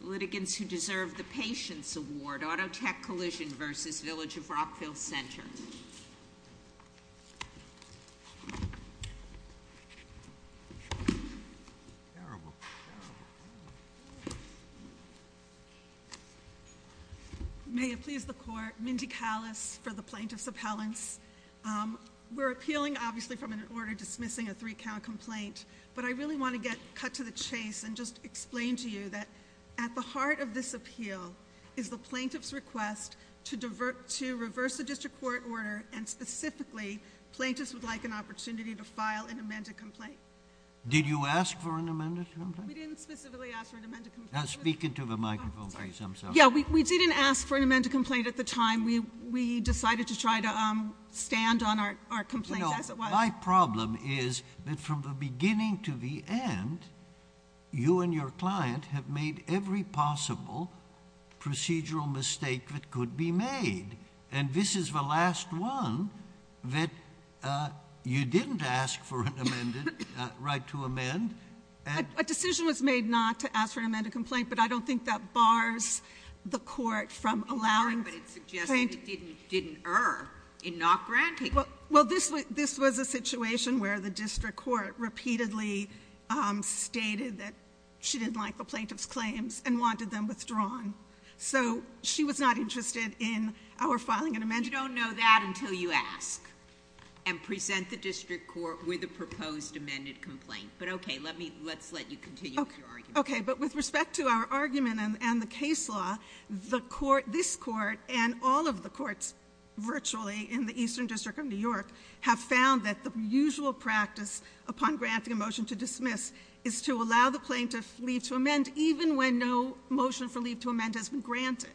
Litigants Who Deserve the Patience Award, Autotech Collision v. Village of Rockville Center. Terrible, terrible. May it please the court, Mindy Callas for the plaintiff's appellants. We're appealing, obviously, from an order dismissing a three count complaint. But I really want to get cut to the chase and just explain to you that at the heart of this appeal is the plaintiff's request to reverse the district court order, and specifically, plaintiffs would like an opportunity to file an amended complaint. Did you ask for an amended complaint? We didn't specifically ask for an amended complaint. Speaking to the microphone piece, I'm sorry. Yeah, we didn't ask for an amended complaint at the time. We decided to try to stand on our complaint as it was. My problem is that from the beginning to the end, you and your client have made every possible procedural mistake that could be made. And this is the last one that you didn't ask for an amended, right to amend. A decision was made not to ask for an amended complaint, but I don't think that bars the court from allowing- But it suggested it didn't err in not granting it. Well, this was a situation where the district court repeatedly stated that she didn't like the plaintiff's claims and wanted them withdrawn. So she was not interested in our filing an amendment. You don't know that until you ask and present the district court with a proposed amended complaint. But okay, let's let you continue with your argument. Okay, but with respect to our argument and the case law, this court and all of the courts virtually in the Eastern District of New York have found that the usual practice upon granting a motion to dismiss is to allow the plaintiff leave to amend even when no motion for leave to amend has been granted.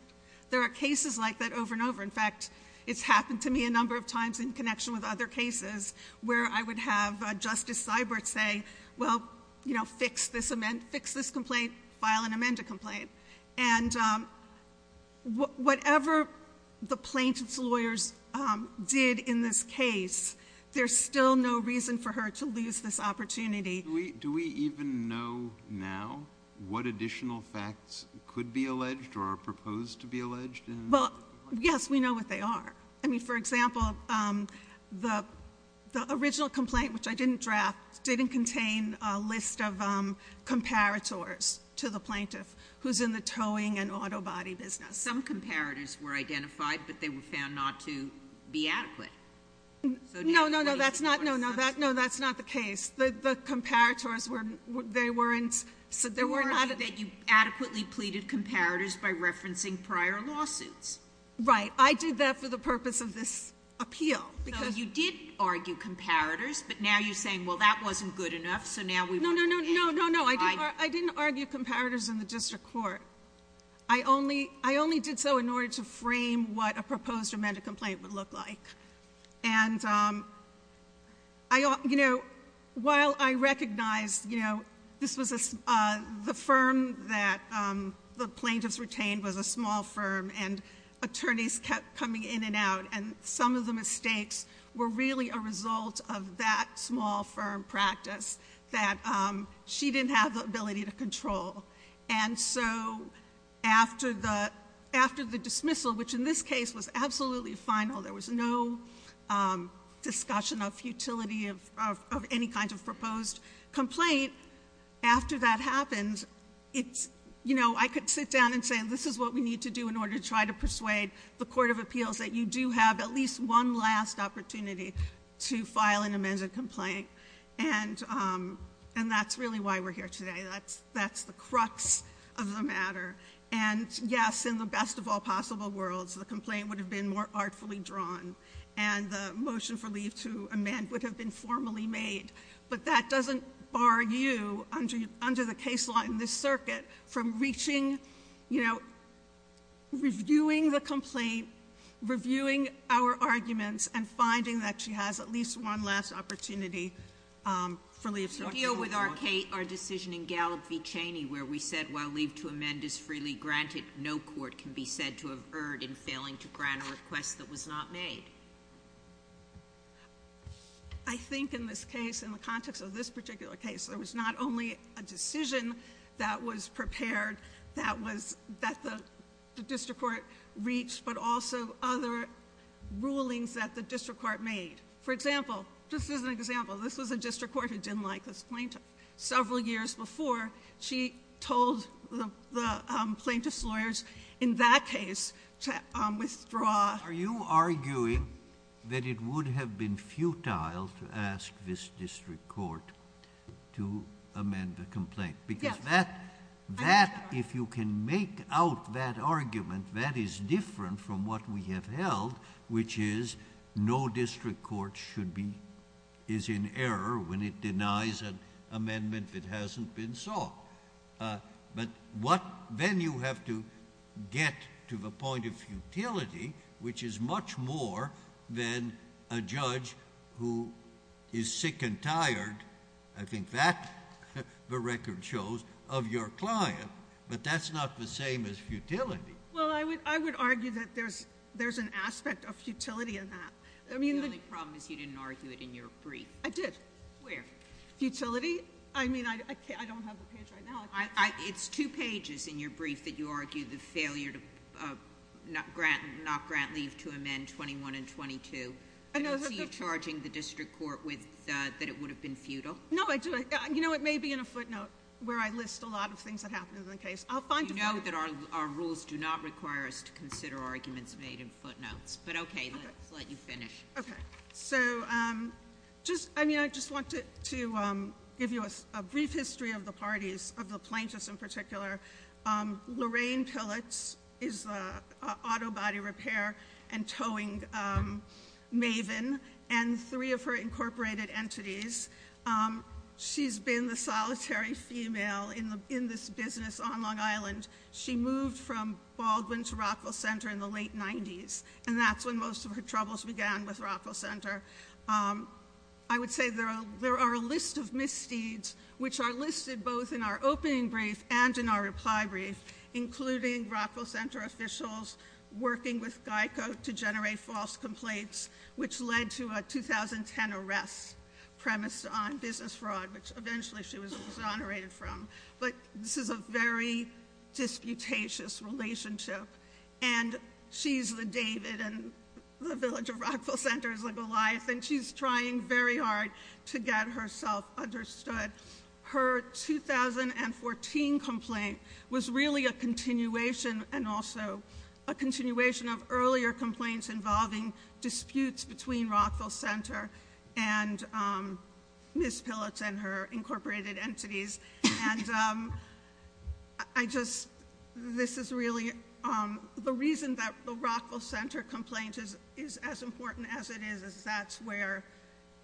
There are cases like that over and over. In fact, it's happened to me a number of times in connection with other cases where I would have Justice Seibert say, well, fix this complaint, file an amended complaint. And whatever the plaintiff's lawyers did in this case, there's still no reason for her to lose this opportunity. Do we even know now what additional facts could be alleged or are proposed to be alleged in- Well, yes, we know what they are. I mean, for example, the original complaint, which I didn't draft, didn't contain a list of comparators to the plaintiff who's in the towing and auto body business. Some comparators were identified, but they were found not to be adequate. No, no, no, that's not, no, no, that's not the case. The comparators were, they weren't, so there were not- You argued that you adequately pleaded comparators by referencing prior lawsuits. Right, I did that for the purpose of this appeal, because- Yes, but now you're saying, well, that wasn't good enough, so now we want to- No, no, no, no, no, no, I didn't argue comparators in the district court. I only did so in order to frame what a proposed amended complaint would look like. And while I recognize this was the firm that the plaintiff's retained was a small firm. And attorneys kept coming in and out. And some of the mistakes were really a result of that small firm practice that she didn't have the ability to control. And so after the dismissal, which in this case was absolutely final, there was no discussion of futility of any kind of proposed complaint. After that happened, I could sit down and say, this is what we need to do in order to try to persuade the Court of Appeals that you do have at least one last opportunity to file an amended complaint. And that's really why we're here today, that's the crux of the matter. And yes, in the best of all possible worlds, the complaint would have been more artfully drawn. And the motion for leave to amend would have been formally made. But that doesn't bar you, under the case law in this circuit, from reaching, reviewing the complaint, reviewing our arguments, and finding that she has at least one last opportunity for leave. So deal with our decision in Gallop v Cheney, where we said while leave to amend is freely granted, no court can be said to have erred in failing to grant a request that was not made. I think in this case, in the context of this particular case, there was not only a decision that was prepared that the district court reached, but also other rulings that the district court made. For example, just as an example, this was a district court who didn't like this plaintiff. Several years before, she told the plaintiff's lawyers in that case to withdraw. Are you arguing that it would have been futile to ask this district court to amend the complaint? Because that, if you can make out that argument, that is different from what we have held, which is no district court should be, is in error when it denies an amendment that hasn't been sought. But then you have to get to the point of futility, which is much more than a judge who is sick and tired. I think that the record shows of your client, but that's not the same as futility. Well, I would argue that there's an aspect of futility in that. I mean- The only problem is you didn't argue it in your brief. I did. Where? Futility? I mean, I don't have the page right now. It's two pages in your brief that you argue the failure to not grant leave to amend 21 and 22. I don't see you charging the district court that it would have been futile. No, I do. You know, it may be in a footnote where I list a lot of things that happened in the case. I'll find a- You know that our rules do not require us to consider arguments made in footnotes. But okay, let's let you finish. Okay, so I just wanted to give you a brief history of the parties, of the plaintiffs in particular. Lorraine Pillitz is the auto body repair and towing maven, and three of her incorporated entities. She's been the solitary female in this business on Long Island. She moved from Baldwin to Rockville Center in the late 90s, and that's when most of her troubles began with Rockville Center. I would say there are a list of misdeeds which are listed both in our opening brief and in our reply brief, including Rockville Center officials working with GEICO to generate false complaints, which led to a 2010 arrest premised on business fraud, which eventually she was exonerated from. But this is a very disputatious relationship. And she's the David in the village of Rockville Center's legal life, and she's trying very hard to get herself understood. Her 2014 complaint was really a continuation, and also a continuation of earlier complaints involving disputes between Rockville Center. And Ms. Pillitz and her incorporated entities. And I just, this is really, the reason that the Rockville Center complaint is as important as it is, is that's where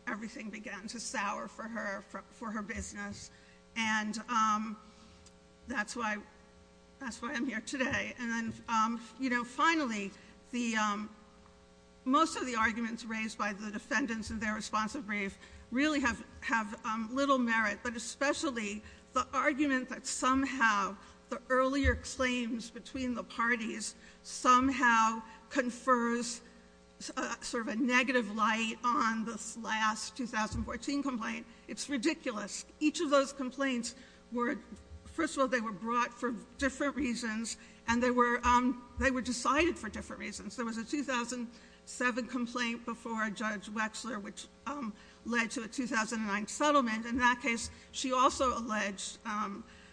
everything began to sour for her business. And that's why I'm here today. And then finally, most of the arguments raised by the defendants in their responsive brief really have little merit, but especially the argument that somehow the earlier claims between the parties somehow confers sort of a negative light on this last 2014 complaint, it's ridiculous. Each of those complaints were, first of all, they were brought for different reasons. And they were decided for different reasons. There was a 2007 complaint before Judge Wexler, which led to a 2009 settlement. In that case, she also alleged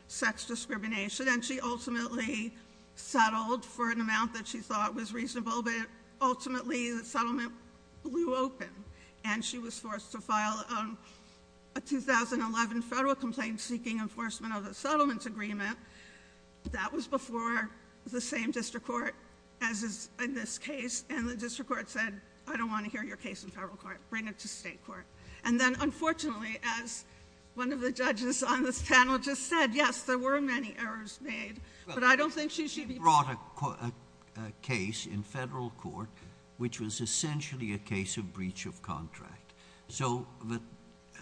sex discrimination, and she ultimately settled for an amount that she thought was reasonable. But ultimately, the settlement blew open, and she was forced to file a 2011 federal complaint seeking enforcement of the settlement agreement. That was before the same district court as is in this case. And the district court said, I don't want to hear your case in federal court, bring it to state court. And then unfortunately, as one of the judges on this panel just said, yes, there were many errors made. But I don't think she should be brought a case in federal court, which was essentially a case of breach of contract. So the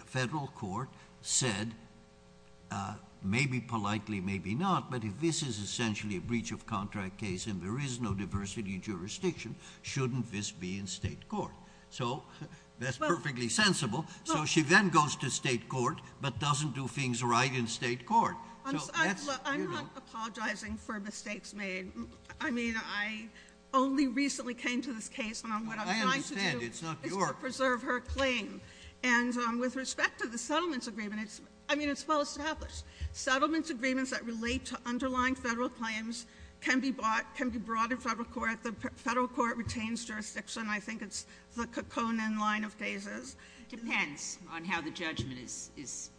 federal court said, maybe politely, maybe not. But if this is essentially a breach of contract case, and there is no diversity in jurisdiction, shouldn't this be in state court? So that's perfectly sensible. So she then goes to state court, but doesn't do things right in state court. So that's- I'm not apologizing for mistakes made. I mean, I only recently came to this case, and what I'm trying to do is to preserve her claim. And with respect to the settlements agreement, I mean, it's well established. Settlements agreements that relate to underlying federal claims can be brought in federal court. The federal court retains jurisdiction. I think it's the Kekkonen line of cases. Depends on how the judgment is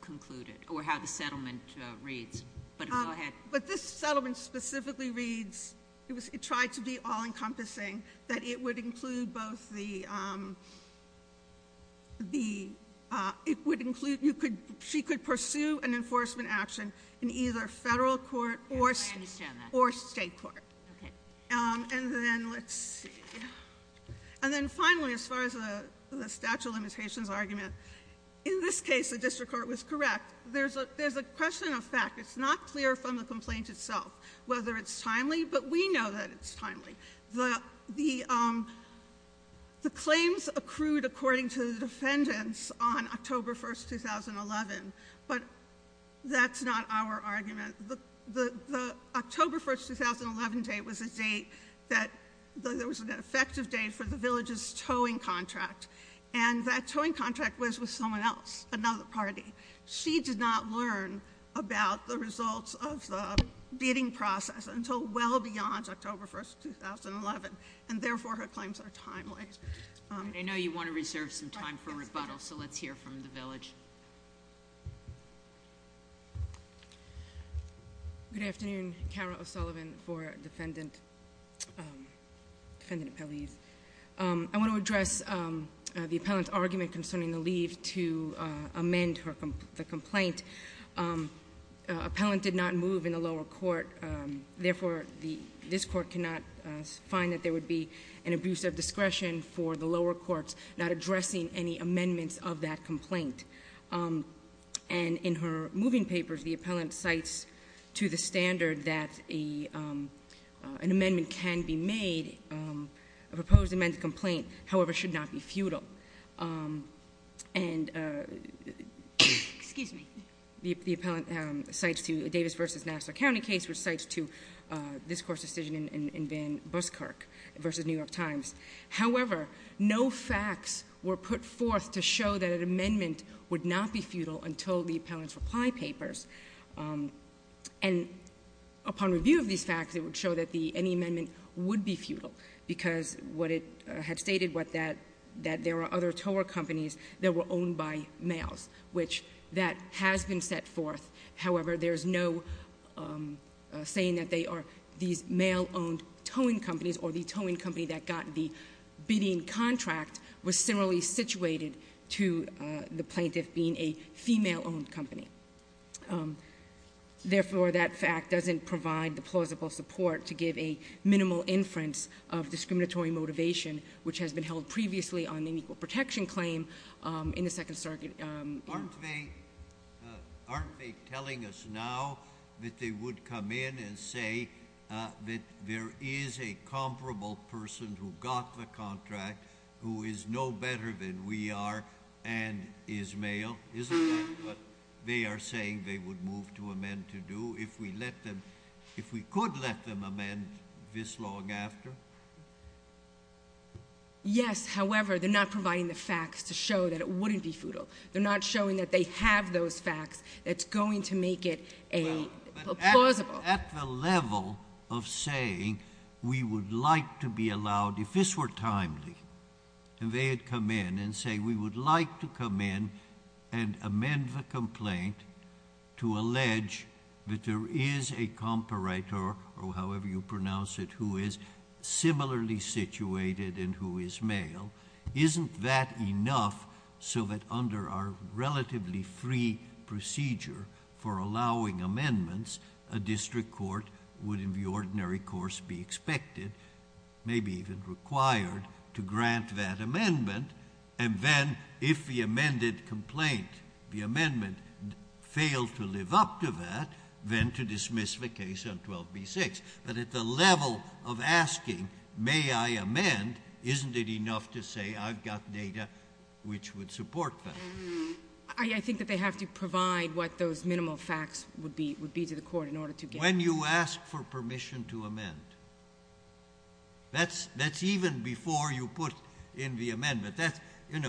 concluded, or how the settlement reads. But go ahead. But this settlement specifically reads, it tried to be all encompassing, that it would include both the, it would include, she could pursue an enforcement action in either federal court or state court. And then, let's see, and then finally, as far as the statute of limitations argument. In this case, the district court was correct. There's a question of fact. It's not clear from the complaint itself whether it's timely, but we know that it's timely. The claims accrued according to the defendants on October 1st, 2011. But that's not our argument. The October 1st, 2011 date was a date that there was an effective date for the village's towing contract, and that towing contract was with someone else, another party. She did not learn about the results of the bidding process until well beyond October 1st, 2011, and therefore, her claims are timely. I know you want to reserve some time for rebuttal, so let's hear from the village. Good afternoon. Carol O'Sullivan for defendant, defendant appellees. I want to address the appellant's argument concerning the leave to amend the complaint. Appellant did not move in the lower court. Therefore, this court cannot find that there would be an abuse of discretion for the lower courts not addressing any amendments of that complaint. And in her moving papers, the appellant cites to the standard that an amendment can be made. A proposed amended complaint, however, should not be futile. And, excuse me, the appellant cites to a Davis versus Nassau County case, which cites to this court's decision in Van Buskirk versus New York Times. However, no facts were put forth to show that an amendment would not be futile until the appellant's reply papers. And upon review of these facts, it would show that any amendment would be futile. Because what it had stated, that there are other tower companies that were owned by males, which that has been set forth. However, there's no saying that they are these male-owned towing companies or the towing company that got the bidding contract was similarly situated to the plaintiff being a female-owned company. Therefore, that fact doesn't provide the plausible support to give a minimal inference of discriminatory motivation, which has been held previously on an equal protection claim in the Second Circuit. Aren't they telling us now that they would come in and say that there is a comparable person who got the contract, who is no better than we are, and is male? Isn't that what they are saying they would move to amend to do if we could let them amend this long after? Yes, however, they're not providing the facts to show that it wouldn't be futile. They're not showing that they have those facts that's going to make it a plausible. At the level of saying we would like to be allowed, if this were timely, if they had come in and say we would like to come in and amend the complaint to allege that there is a comparator, or however you pronounce it, who is similarly situated and who is male. Isn't that enough so that under our relatively free procedure for allowing amendments, a district court would, in the ordinary course, be expected, maybe even required, to grant that amendment? And then, if the amended complaint, the amendment, failed to live up to that, then to dismiss the case on 12B6. But at the level of asking, may I amend, isn't it enough to say I've got data which would support that? I think that they have to provide what those minimal facts would be to the court in order to get- When you ask for permission to amend, that's even before you put in the amendment.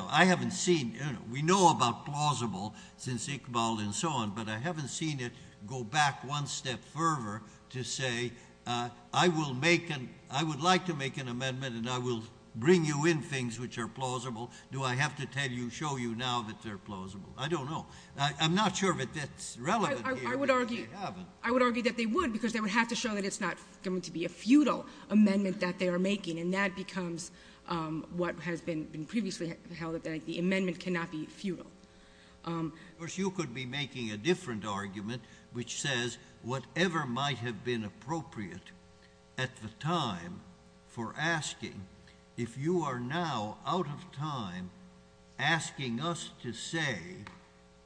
I haven't seen, we know about plausible since Iqbal and so on, but I haven't seen it go back one step further to say, I would like to make an amendment and I will bring you in things which are plausible. Do I have to tell you, show you now that they're plausible? I don't know. I'm not sure that that's relevant here, but they haven't. I would argue that they would, because they would have to show that it's not going to be a futile amendment that they are making. And that becomes what has been previously held that the amendment cannot be futile. Of course, you could be making a different argument which says, whatever might have been appropriate at the time for asking, if you are now out of time asking us to say,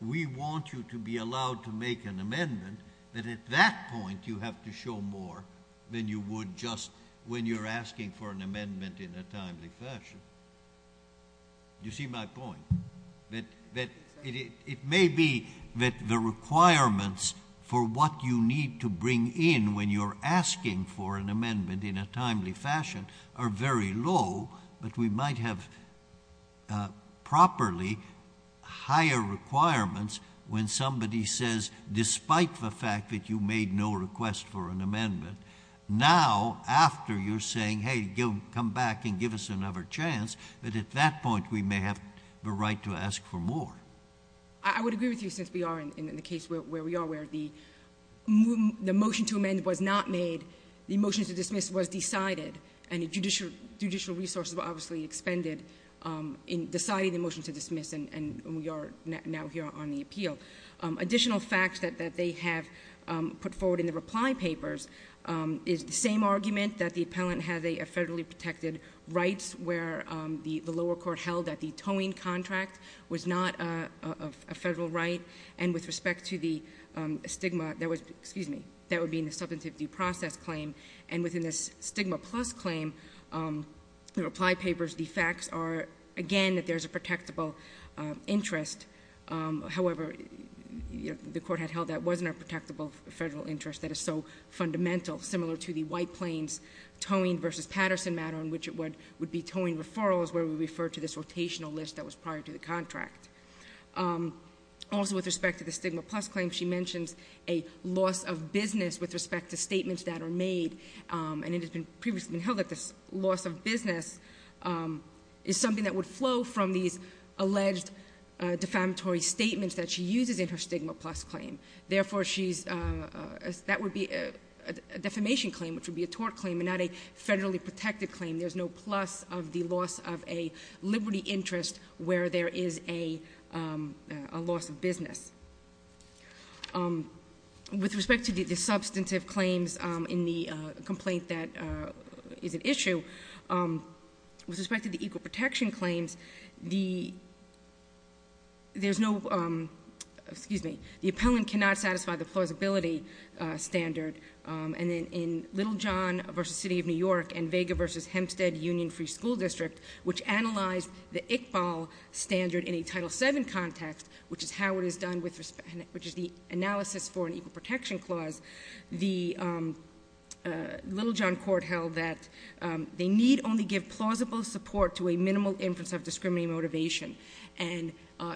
we want you to be allowed to make an amendment, that at that point you have to show more than you would just when you're asking for an amendment in a timely fashion. You see my point, that it may be that the requirements for what you need to bring in when you're asking for an amendment in a timely fashion are very low. But we might have properly higher requirements when somebody says, despite the fact that you made no request for an amendment, now, after you're saying, hey, come back and give us another chance, that at that point we may have the right to ask for more. I would agree with you, since we are in the case where we are, where the motion to amend was not made. The motion to dismiss was decided, and judicial resources were obviously expended in deciding the motion to dismiss. And we are now here on the appeal. Additional facts that they have put forward in the reply papers is the same argument that the appellant has a federally protected rights, where the lower court held that the towing contract was not a federal right. And with respect to the stigma, excuse me, that would be in the substantive due process claim. And within this stigma plus claim, the reply papers, the facts are, again, that there's a protectable interest. However, the court had held that wasn't a protectable federal interest that is so fundamental, similar to the White Plains towing versus Patterson matter, in which it would be towing referrals, where we refer to this rotational list that was prior to the contract. Also with respect to the stigma plus claim, she mentions a loss of business with respect to statements that are made. And it has been previously held that this loss of business is something that would flow from these alleged defamatory statements that she uses in her stigma plus claim. Therefore, that would be a defamation claim, which would be a tort claim, and not a federally protected claim. There's no plus of the loss of a liberty interest where there is a loss of business. With respect to the substantive claims in the complaint that is at issue, with respect to the equal protection claims, there's no, excuse me, the appellant cannot satisfy the plausibility standard. And then in Little John versus City of New York and Vega versus Hempstead Union Free School District, which analyzed the Iqbal standard in a Title VII context, which is how it is done with respect, which is the analysis for an equal protection clause. The Little John court held that they need only give plausible support to a minimal inference of discriminatory motivation. And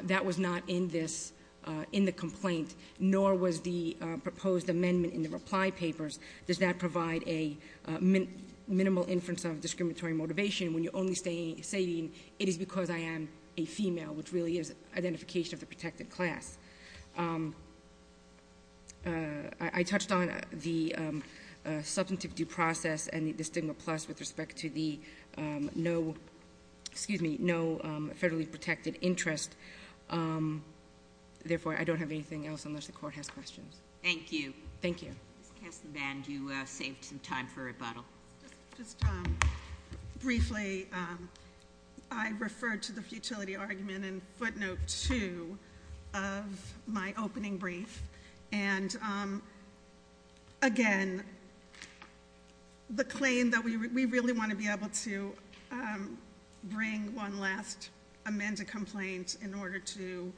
that was not in the complaint, nor was the proposed amendment in the reply papers. Does that provide a minimal inference of discriminatory motivation when you're only saying, it is because I am a female, which really is identification of the protected class. I touched on the substantive due process and the stigma plus with respect to the no, excuse me, no federally protected interest. Therefore, I don't have anything else unless the court has questions. Thank you. Ms. Kastenband, you saved some time for rebuttal. Just briefly, I referred to the futility argument in footnote two of my opening brief. And again, the claim that we really want to be able to bring one last amended complaint in order to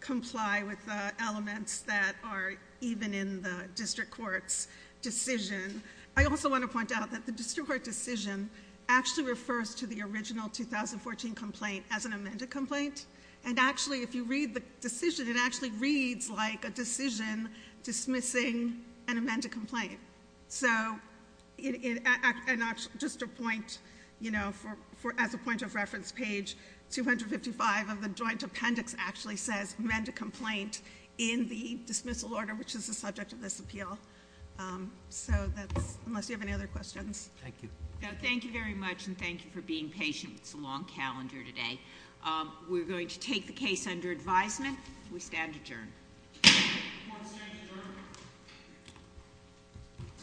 comply with the elements that are even in the district court's decision. I also want to point out that the district court decision actually refers to the original 2014 complaint as an amended complaint. And actually, if you read the decision, it actually reads like a decision dismissing an amended complaint. So, just a point, as a point of reference, page 255 of the joint appendix actually says, amend a complaint in the dismissal order, which is the subject of this appeal. So that's, unless you have any other questions. Thank you. Thank you very much, and thank you for being patient. It's a long calendar today. We're going to take the case under advisement. We stand adjourned. I want to stand adjourned.